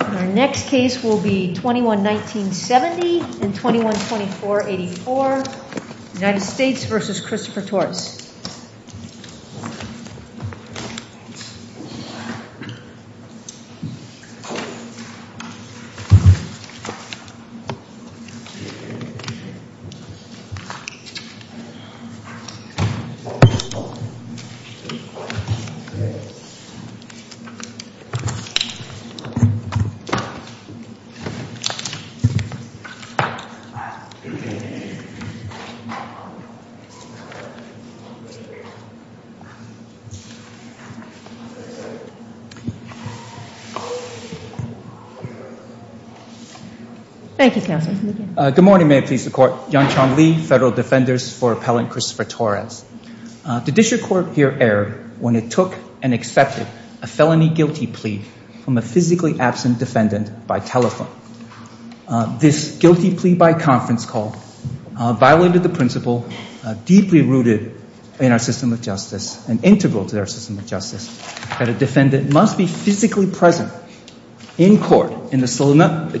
Our next case will be 21-19-70 and 21-24-84 United States v. Christopher Torres Thank you, counsel. Good morning, may it please the court. Yan-Chan Lee, federal defenders for appellant Christopher Torres. The district court here erred when it took and accepted a felony guilty plea from a physically absent defendant by telephone. This guilty plea by conference call violated the principle deeply rooted in our system of justice and integral to our system of justice that a defendant must be physically present in court in the solemnity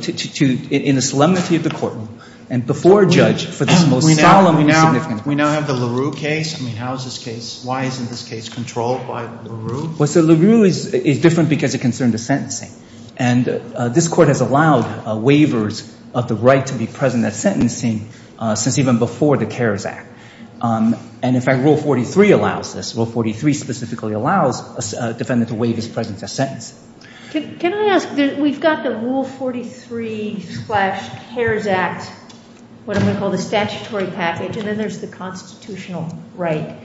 of the courtroom and before a judge for this most solemn and significant act. We now have the LaRue case. I mean, how is this case, why isn't this case controlled by LaRue? Well, so LaRue is different because it concerned the sentencing. And this court has allowed waivers of the right to be present at sentencing since even before the CARES Act. And in fact, Rule 43 allows this. Rule 43 specifically allows a defendant to waive his presence at sentencing. Can I ask, we've got the Rule 43 slash CARES Act, what I'm going to call the statutory package, and then there's the constitutional right.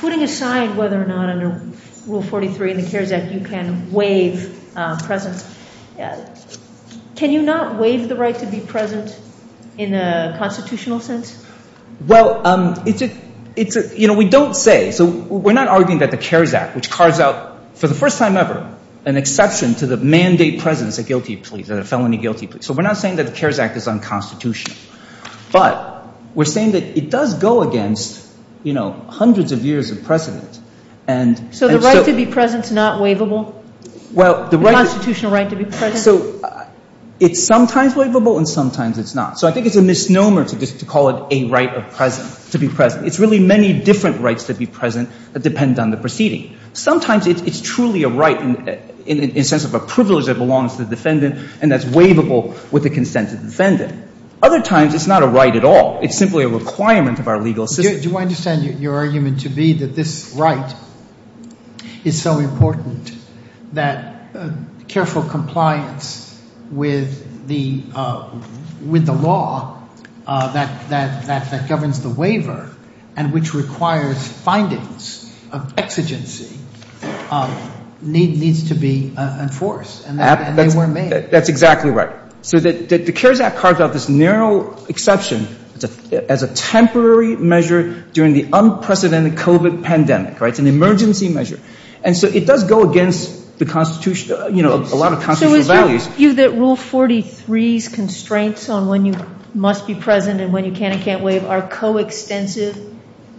Putting aside whether or not under Rule 43 in the CARES Act you can waive presence, can you not waive the right to be present in a constitutional sense? Well, it's a, you know, we don't say, so we're not arguing that the CARES Act, which cards out for the first time ever an exception to the mandate presence at guilty plea, the felony guilty plea. So we're not saying that the CARES Act is unconstitutional. But we're saying that it does go against, you know, hundreds of years of precedent. So the right to be present is not waivable? Well, the right to be present. The constitutional right to be present. So it's sometimes waivable and sometimes it's not. So I think it's a misnomer to call it a right of presence, to be present. It's really many different rights to be present that depend on the proceeding. Sometimes it's truly a right in the sense of a privilege that belongs to the defendant and that's waivable with the consent of the defendant. Other times it's not a right at all. It's simply a requirement of our legal system. Do I understand your argument to be that this right is so important that careful compliance with the law that governs the waiver and which requires findings of exigency needs to be enforced? And they were made. That's exactly right. So the CARES Act carves out this narrow exception as a temporary measure during the unprecedented COVID pandemic, right? It's an emergency measure. And so it does go against the constitution, you know, a lot of constitutional values. So is your view that Rule 43's constraints on when you must be present and when you can and can't waive are coextensive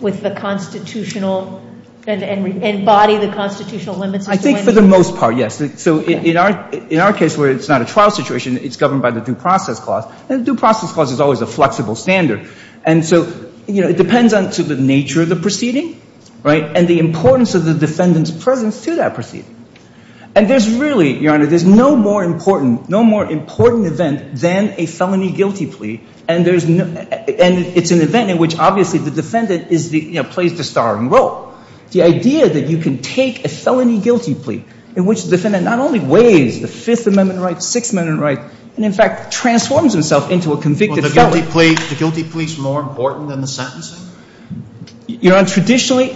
with the constitutional and embody the constitutional limits? I think for the most part, yes. So in our case where it's not a trial situation, it's governed by the due process clause. And the due process clause is always a flexible standard. And so, you know, it depends on the nature of the proceeding, right, and the importance of the defendant's presence to that proceeding. And there's really, Your Honor, there's no more important event than a felony guilty plea, and it's an event in which obviously the defendant plays the starring role. The idea that you can take a felony guilty plea in which the defendant not only waives the Fifth Amendment right, Sixth Amendment right, and in fact transforms himself into a convicted felon. Was the guilty plea more important than the sentencing? Your Honor, traditionally,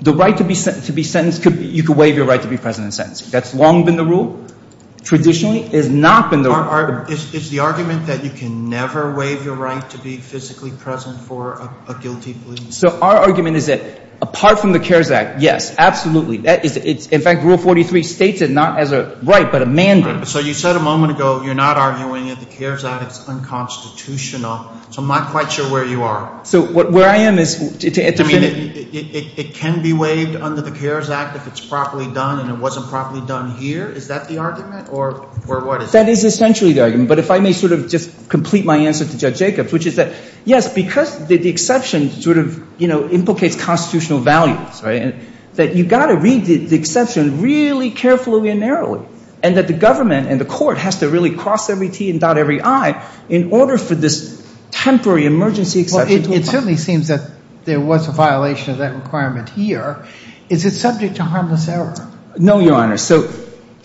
the right to be sentenced, you could waive your right to be present in sentencing. That's long been the rule. Traditionally, it has not been the rule. Is the argument that you can never waive your right to be physically present for a guilty plea? So our argument is that apart from the CARES Act, yes, absolutely. In fact, Rule 43 states it not as a right, but a mandate. So you said a moment ago you're not arguing at the CARES Act it's unconstitutional. So I'm not quite sure where you are. So where I am is – I mean, it can be waived under the CARES Act if it's properly done, and it wasn't properly done here. Is that the argument, or what is it? That is essentially the argument. That's because the exception sort of implicates constitutional values, right? That you've got to read the exception really carefully and narrowly, and that the government and the court has to really cross every T and dot every I in order for this temporary emergency exception to apply. Well, it certainly seems that there was a violation of that requirement here. Is it subject to harmless error? No, Your Honor. So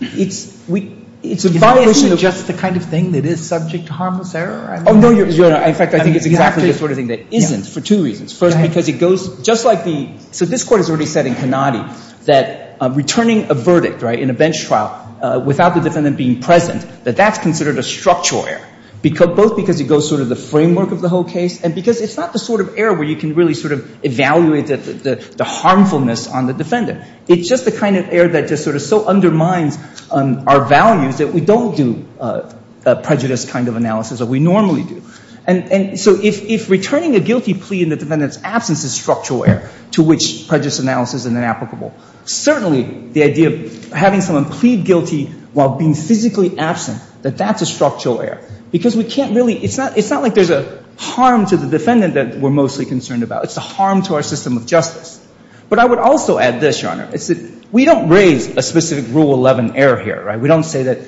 it's a violation of – Isn't it just the kind of thing that is subject to harmless error? Oh, no, Your Honor. In fact, I think it's exactly the sort of thing that isn't for two reasons. First, because it goes – just like the – so this Court has already said in Cannati that returning a verdict, right, in a bench trial without the defendant being present, that that's considered a structural error, both because it goes sort of the framework of the whole case and because it's not the sort of error where you can really sort of evaluate the harmfulness on the defendant. It's just the kind of error that just sort of so undermines our values that we don't do a prejudice kind of analysis that we normally do. And so if returning a guilty plea in the defendant's absence is structural error to which prejudice analysis is inapplicable, certainly the idea of having someone plead guilty while being physically absent, that that's a structural error, because we can't really – it's not like there's a harm to the defendant that we're mostly concerned about. It's a harm to our system of justice. But I would also add this, Your Honor. It's that we don't raise a specific Rule 11 error here, right? We don't say that,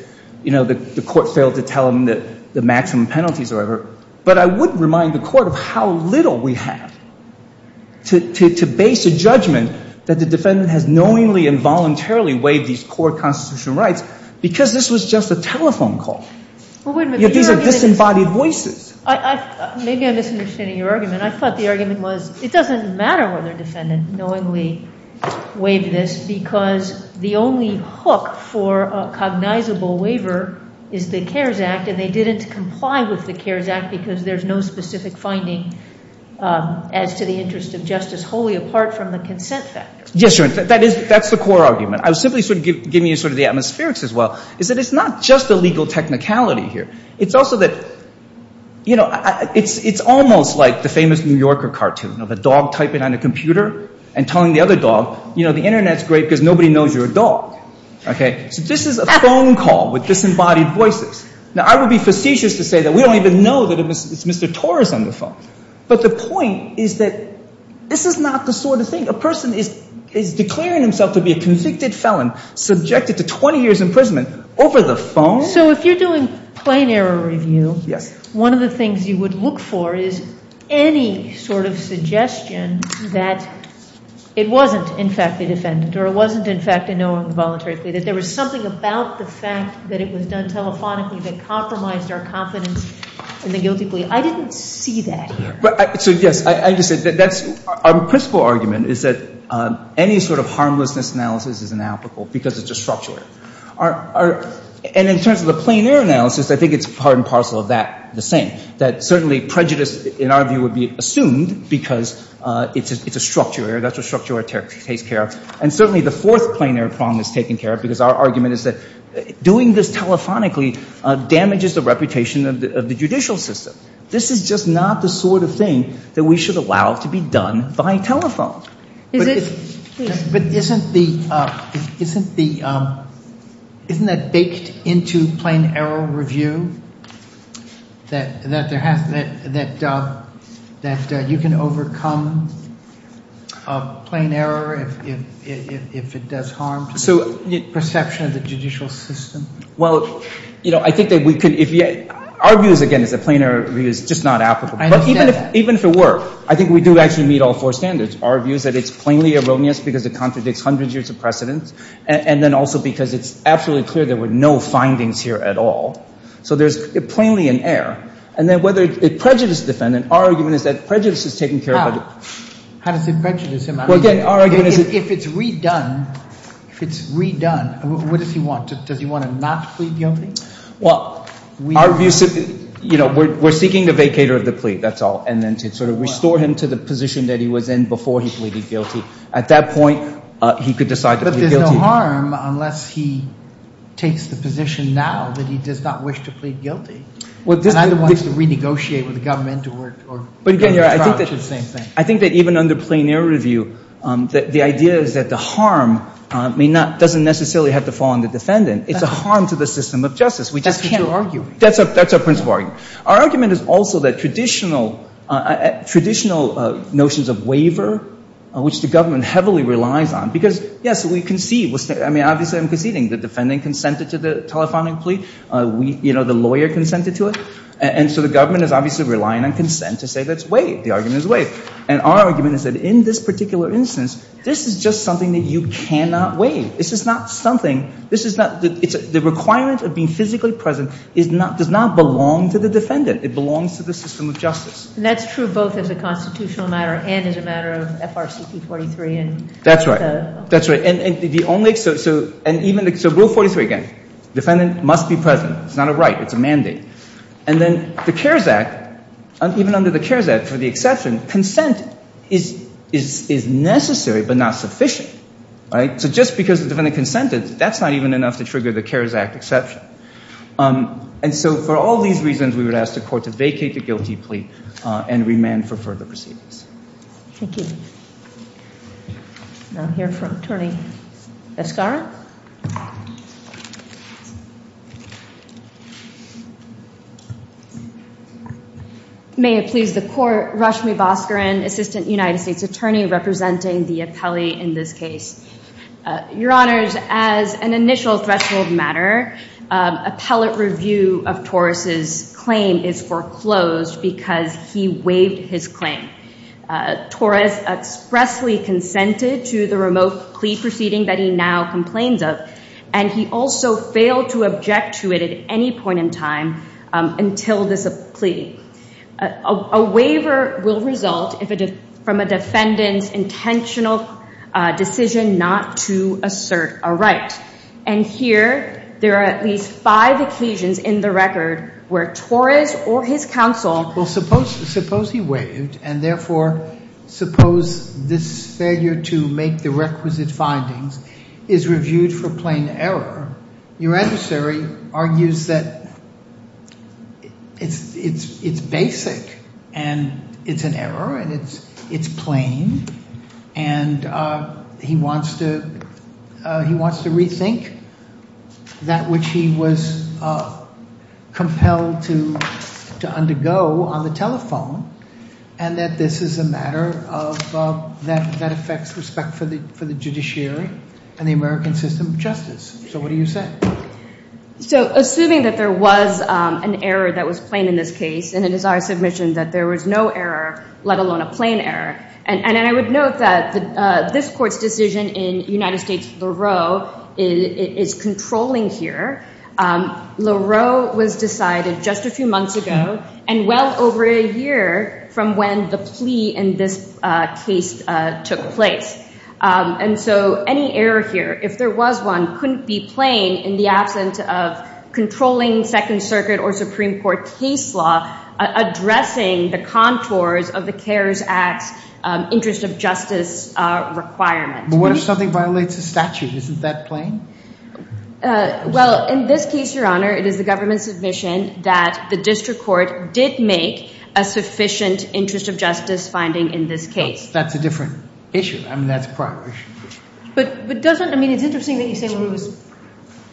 you know, the Court failed to tell them that the maximum penalties are ever – but I would remind the Court of how little we have to base a judgment that the defendant has knowingly and voluntarily waived these core constitutional rights because this was just a telephone call. These are disembodied voices. Maybe I'm misunderstanding your argument. I thought the argument was it doesn't matter whether a defendant knowingly waived this because the only hook for a cognizable waiver is the CARES Act, and they didn't comply with the CARES Act because there's no specific finding as to the interest of justice wholly apart from the consent factor. Yes, Your Honor. That is – that's the core argument. I was simply sort of giving you sort of the atmospherics as well, is that it's not just a legal technicality here. It's also that, you know, it's almost like the famous New Yorker cartoon of a dog typing on a computer and telling the other dog, you know, the Internet's great because nobody knows you're a dog. Okay? So this is a phone call with disembodied voices. Now, I would be facetious to say that we don't even know that it's Mr. Torres on the phone. But the point is that this is not the sort of thing – a person is declaring himself to be a convicted felon subjected to 20 years' imprisonment over the phone. So if you're doing plain error review, one of the things you would look for is any sort of suggestion that it wasn't, in fact, a defendant or it wasn't, in fact, a no on the voluntary plea, that there was something about the fact that it was done telephonically that compromised our confidence in the guilty plea. I didn't see that here. So, yes, I understand. That's – our principal argument is that any sort of harmlessness analysis is inapplicable because it's a structural error. And in terms of the plain error analysis, I think it's part and parcel of that, the same. That certainly prejudice, in our view, would be assumed because it's a structural error. That's what structural error takes care of. And certainly the fourth plain error problem is taken care of because our argument is that doing this telephonically damages the reputation of the judicial system. This is just not the sort of thing that we should allow to be done by telephone. But isn't the – isn't that baked into plain error review, that there has – that you can overcome plain error if it does harm to the perception of the judicial system? Well, I think that we could – our view, again, is that plain error review is just not applicable. I understand that. Even if it were, I think we do actually meet all four standards. Our view is that it's plainly erroneous because it contradicts hundreds of years of precedents, and then also because it's absolutely clear there were no findings here at all. So there's plainly an error. And then whether it prejudices the defendant, our argument is that prejudice is taken care of by the – How? How does it prejudice him? I mean, if it's redone – if it's redone, what does he want? Does he want to not plead guilty? Well, our view – you know, we're seeking the vacator of the plea, that's all. And then to sort of restore him to the position that he was in before he pleaded guilty. At that point, he could decide to plead guilty. But there's no harm unless he takes the position now that he does not wish to plead guilty. Well, this – And either wants to renegotiate with the government or – But again, Your Honor, I think that even under plain error review, the idea is that the harm may not – doesn't necessarily have to fall on the defendant. It's a harm to the system of justice. We just need to argue. That's our principle argument. Our argument is also that traditional – traditional notions of waiver, which the government heavily relies on – because, yes, we concede – I mean, obviously I'm conceding. The defendant consented to the telephonic plea. We – you know, the lawyer consented to it. And so the government is obviously relying on consent to say let's waive. The argument is waived. And our argument is that in this particular instance, this is just something that you cannot waive. This is not something – this is not – the requirement of being physically present is not – does not belong to the defendant. It belongs to the system of justice. And that's true both as a constitutional matter and as a matter of FRCP 43 and – That's right. That's right. And the only – so – and even – so Rule 43, again, defendant must be present. It's not a right. It's a mandate. And then the CARES Act, even under the CARES Act, for the exception, consent is necessary but not sufficient, right? So just because the defendant consented, that's not even enough to trigger the CARES Act exception. And so for all these reasons, we would ask the court to vacate the guilty plea and remand for further proceedings. Thank you. Now I'll hear from Attorney Escara. May it please the court, Rashmi Bhaskaran, Assistant United States Attorney representing the appellee in this case. Your Honors, as an initial threshold matter, appellate review of Torres' claim is foreclosed because he waived his claim. Torres expressly consented to the remote plea proceeding that he now complains of and he also failed to object to it at any point in time until this plea. A waiver will result from a defendant's intentional decision not to assert a right. And here, there are at least five occasions in the record where Torres or his counsel Well, suppose he waived and, therefore, suppose this failure to make the requisite and it's an error and it's plain. And he wants to rethink that which he was compelled to undergo on the telephone and that this is a matter that affects respect for the judiciary and the American system of justice. So what do you say? So assuming that there was an error that was plain in this case and it is our submission that there was no error, let alone a plain error, and I would note that this court's decision in United States LaRoe is controlling here. LaRoe was decided just a few months ago and well over a year from when the plea in this case took place. And so any error here, if there was one, couldn't be plain in the absence of controlling Second Circuit or Supreme Court case law addressing the contours of the CARES Act's interest of justice requirement. But what if something violates the statute? Isn't that plain? Well, in this case, Your Honor, it is the government's submission that the district court did make a sufficient interest of justice finding in this case. That's a different issue. I mean, that's a prior issue. But doesn't – I mean, it's interesting that you say LaRoe is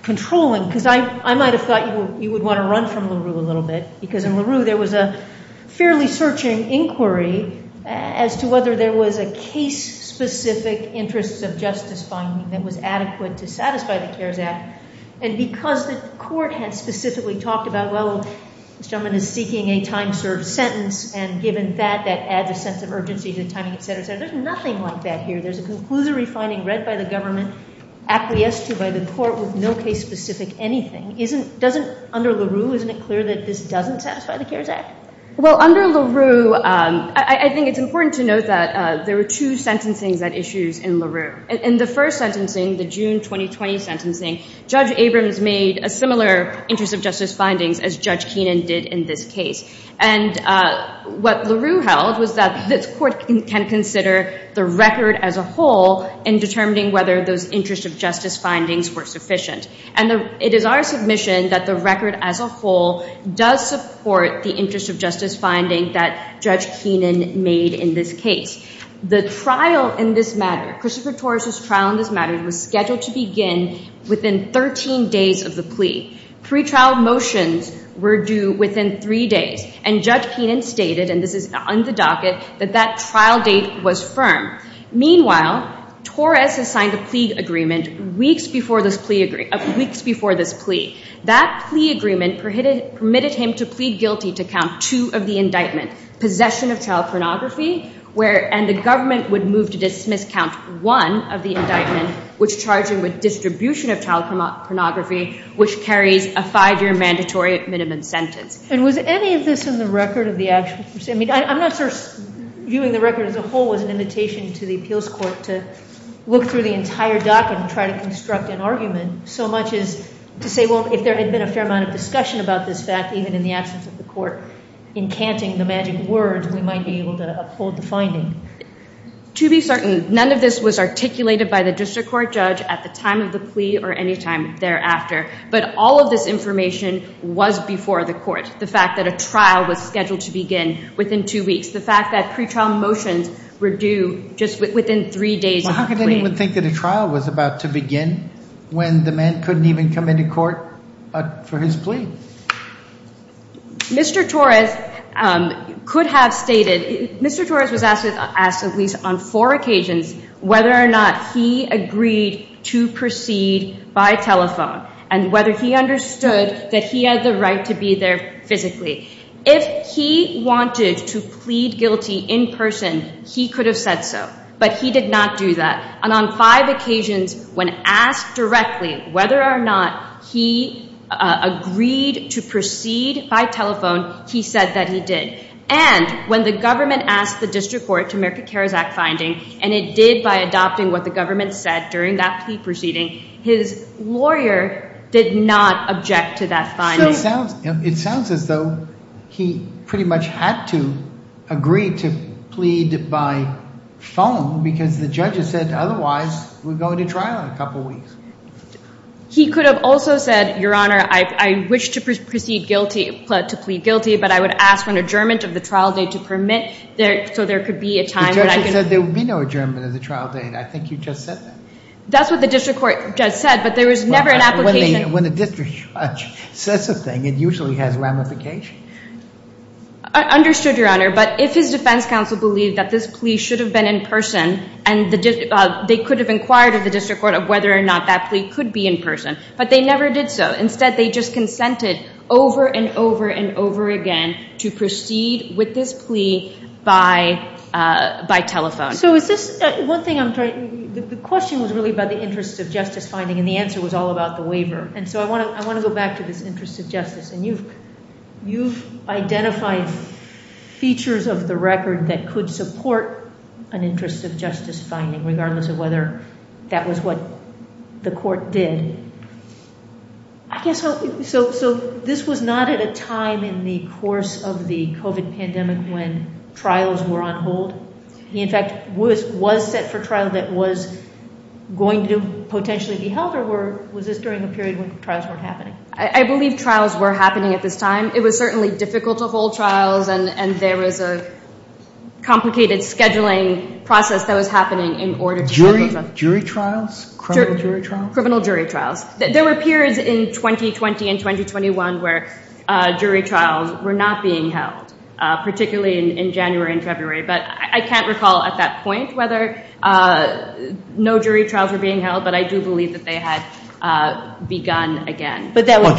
controlling because I might have thought you would want to run from LaRoe a little bit because in LaRoe there was a fairly searching inquiry as to whether there was a case-specific interest of justice finding that was adequate to satisfy the CARES Act. And because the court had specifically talked about, well, this gentleman is seeking a time-served sentence and given that, that adds a sense of urgency to timing, et cetera, et cetera, there's nothing like that here. There's a conclusory finding read by the government acquiesced to by the court with no case-specific anything. Doesn't – under LaRoe, isn't it clear that this doesn't satisfy the CARES Act? Well, under LaRoe, I think it's important to note that there were two sentencing issues in LaRoe. In the first sentencing, the June 2020 sentencing, Judge Abrams made a similar interest of justice findings as Judge Keenan did in this case. And what LaRoe held was that this court can consider the record as a whole in determining whether those interest of justice findings were sufficient. And it is our submission that the record as a whole does support the interest of justice finding that Judge Keenan made in this case. The trial in this matter, Christopher Torres' trial in this matter, was scheduled to begin within 13 days of the plea. Pre-trial motions were due within three days. And Judge Keenan stated, and this is on the docket, that that trial date was firm. Meanwhile, Torres has signed a plea agreement weeks before this plea agreement – weeks before this plea. That plea agreement permitted him to plead guilty to count two of the indictment, possession of child pornography, where – and the government would move to dismiss count one of the indictment, which charged him with distribution of child pornography, which carries a five-year mandatory minimum sentence. And was any of this in the record of the actual – I mean, I'm not sure viewing the record as a whole was an invitation to the appeals court to look through the entire docket and try to construct an argument so much as to say, well, if there had been a fair amount of discussion about this fact, even in the absence of the court encanting the magic words, we might be able to uphold the finding. To be certain, none of this was articulated by the district court judge at the time of the plea or any time thereafter. But all of this information was before the court. The fact that a trial was scheduled to begin within two weeks. The fact that pretrial motions were due just within three days of the plea. Well, how could anyone think that a trial was about to begin when the man couldn't even come into court for his plea? Mr. Torres could have stated – Mr. Torres was asked at least on four occasions whether or not he agreed to proceed by telephone. And whether he understood that he had the right to be there physically. If he wanted to plead guilty in person, he could have said so. But he did not do that. And on five occasions, when asked directly whether or not he agreed to proceed by telephone, he said that he did. And when the government asked the district court to make a CARES Act finding, and it did by adopting what the government said during that plea proceeding, his lawyer did not object to that finding. So it sounds as though he pretty much had to agree to plead by phone because the judges said otherwise we're going to trial in a couple weeks. He could have also said, Your Honor, I wish to proceed guilty – to plead guilty, but I would ask an adjournment of the trial date to permit so there could be a time. The judge had said there would be no adjournment of the trial date. I think you just said that. That's what the district court just said, but there was never an application. When a district judge says a thing, it usually has ramification. Understood, Your Honor. But if his defense counsel believed that this plea should have been in person, and they could have inquired at the district court of whether or not that plea could be in person, but they never did so. Instead, they just consented over and over and over again to proceed with this plea by telephone. So is this – one thing I'm trying – the question was really about the interest of justice finding, and the answer was all about the waiver. And so I want to go back to this interest of justice, and you've identified features of the record that could support an interest of justice finding, regardless of whether that was what the court did. So this was not at a time in the course of the COVID pandemic when trials were on hold. In fact, was set for trial that was going to potentially be held, or was this during a period when trials weren't happening? I believe trials were happening at this time. It was certainly difficult to hold trials, and there was a complicated scheduling process that was happening in order to handle them. Jury trials? Criminal jury trials? Criminal jury trials. There were periods in 2020 and 2021 where jury trials were not being held, particularly in January and February. But I can't recall at that point whether no jury trials were being held, but I do believe that they had begun again. Well,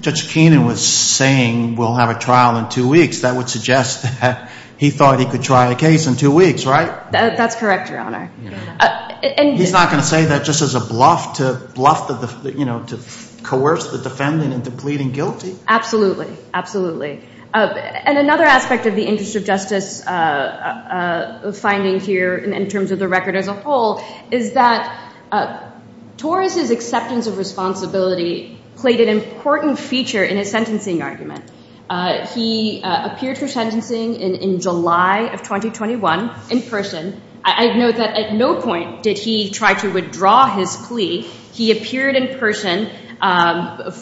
Judge Keenan was saying we'll have a trial in two weeks. That would suggest that he thought he could try a case in two weeks, right? That's correct, Your Honor. He's not going to say that just as a bluff to coerce the defendant into pleading guilty? Absolutely. Absolutely. And another aspect of the interest of justice finding here in terms of the record as a whole is that Torres' acceptance of responsibility played an important feature in his sentencing argument. He appeared for sentencing in July of 2021 in person. I note that at no point did he try to withdraw his plea. He appeared in person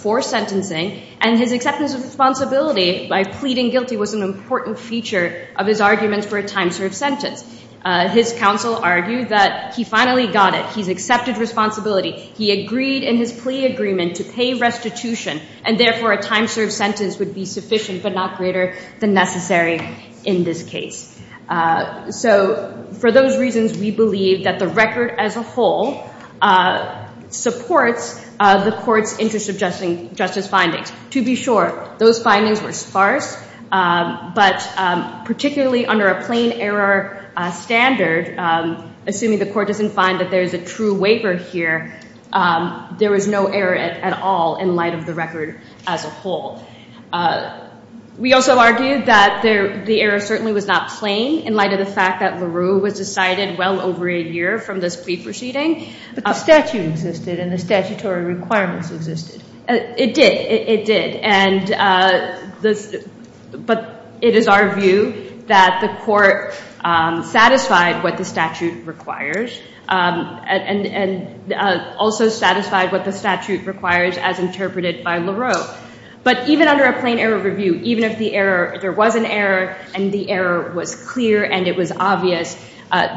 for sentencing, and his acceptance of responsibility by pleading guilty was an important feature of his argument for a time-served sentence. His counsel argued that he finally got it. He's accepted responsibility. He agreed in his plea agreement to pay restitution, and therefore a time-served sentence would be sufficient but not greater than necessary in this case. So for those reasons, we believe that the record as a whole supports the court's interest of justice findings. To be sure, those findings were sparse, but particularly under a plain error standard, assuming the court doesn't find that there is a true waiver here, there was no error at all in light of the record as a whole. We also argued that the error certainly was not plain in light of the fact that LaRue was decided well over a year from this plea proceeding. But the statute existed, and the statutory requirements existed. It did. It did. But it is our view that the court satisfied what the statute requires and also satisfied what the statute requires as interpreted by LaRue. But even under a plain error review, even if there was an error and the error was clear and it was obvious,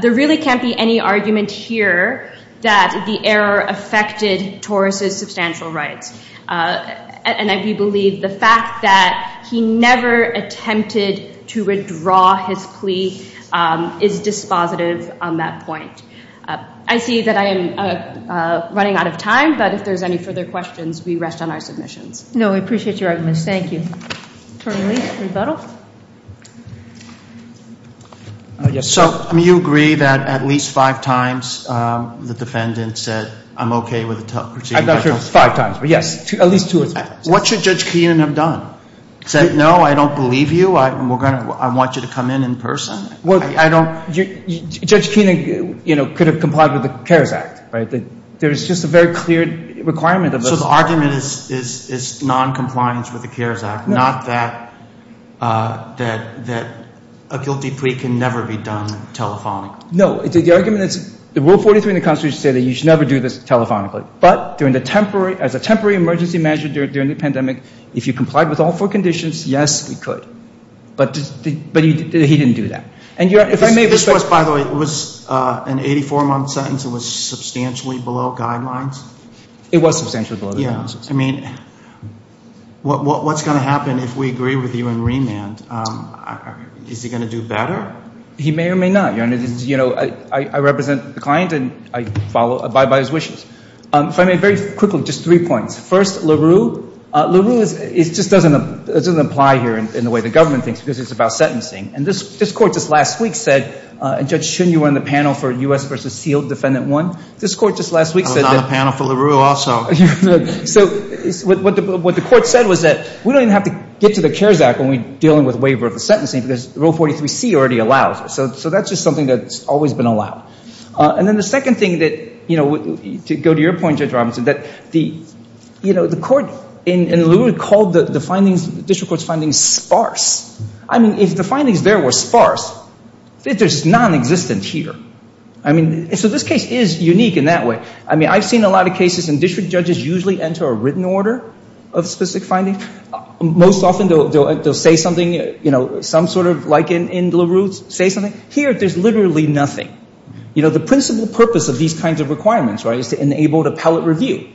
there really can't be any argument here that the error affected Torres' substantial rights. And we believe the fact that he never attempted to withdraw his plea is dispositive on that point. I see that I am running out of time, but if there's any further questions, we rest on our submissions. No, we appreciate your arguments. Thank you. Attorney Lee, rebuttal. So, I mean, you agree that at least five times the defendant said, I'm okay with the proceedings? I'm not sure if it's five times, but, yes, at least two or three times. What should Judge Keenan have done? Said, no, I don't believe you. I want you to come in in person. Well, I don't. Judge Keenan, you know, could have complied with the CARES Act, right? There's just a very clear requirement of us. So the argument is noncompliance with the CARES Act. Not that a guilty plea can never be done telephonically. No, the argument is the Rule 43 in the Constitution says that you should never do this telephonically. But as a temporary emergency measure during the pandemic, if you complied with all four conditions, yes, we could. But he didn't do that. This was, by the way, it was an 84-month sentence. It was substantially below the guidelines. Yeah, I mean, what's going to happen if we agree with you in remand? Is he going to do better? He may or may not. You know, I represent the client, and I abide by his wishes. If I may, very quickly, just three points. First, LaRue. LaRue just doesn't apply here in the way the government thinks because it's about sentencing. And this Court just last week said, and Judge Shin, you were on the panel for U.S. v. Sealed Defendant 1. This Court just last week said that. I was on the panel for LaRue also. So what the Court said was that we don't even have to get to the CARES Act when we're dealing with waiver of the sentencing because Rule 43c already allows it. So that's just something that's always been allowed. And then the second thing that, you know, to go to your point, Judge Robinson, that the, you know, the Court in LaRue called the findings, the district court's findings, sparse. I mean, if the findings there were sparse, there's nonexistence here. I mean, so this case is unique in that way. I mean, I've seen a lot of cases and district judges usually enter a written order of specific findings. Most often they'll say something, you know, some sort of, like in LaRue, say something. Here, there's literally nothing. You know, the principal purpose of these kinds of requirements, right, is to enable appellate review.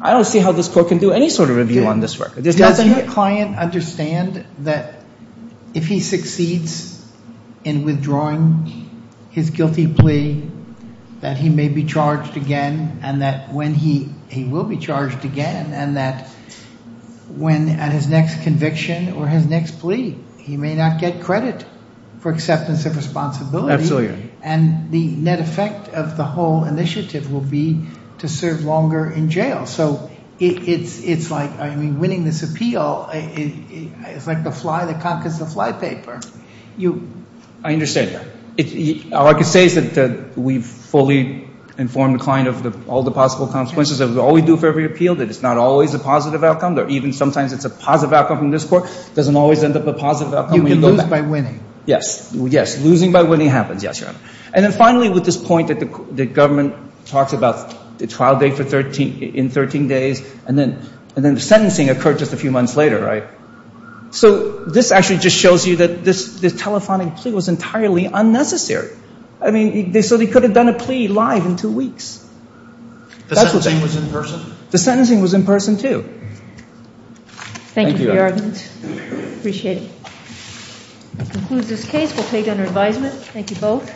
I don't see how this Court can do any sort of review on this record. Does the client understand that if he succeeds in withdrawing his guilty plea that he may be charged again and that when he will be charged again and that when at his next conviction or his next plea, he may not get credit for acceptance of responsibility? Absolutely. And the net effect of the whole initiative will be to serve longer in jail. So it's like, I mean, winning this appeal is like the fly that conquers the flypaper. I understand that. All I can say is that we've fully informed the client of all the possible consequences of all we do for every appeal, that it's not always a positive outcome. Even sometimes it's a positive outcome from this Court. It doesn't always end up a positive outcome. You can lose by winning. Yes, losing by winning happens. Yes, Your Honor. And then finally with this point that the government talks about the trial date in 13 days and then the sentencing occurred just a few months later, right? So this actually just shows you that this telephonic plea was entirely unnecessary. I mean, so they could have done a plea live in two weeks. The sentencing was in person? The sentencing was in person, too. Thank you for your argument. Appreciate it. That concludes this case. We'll take it under advisement. Thank you both.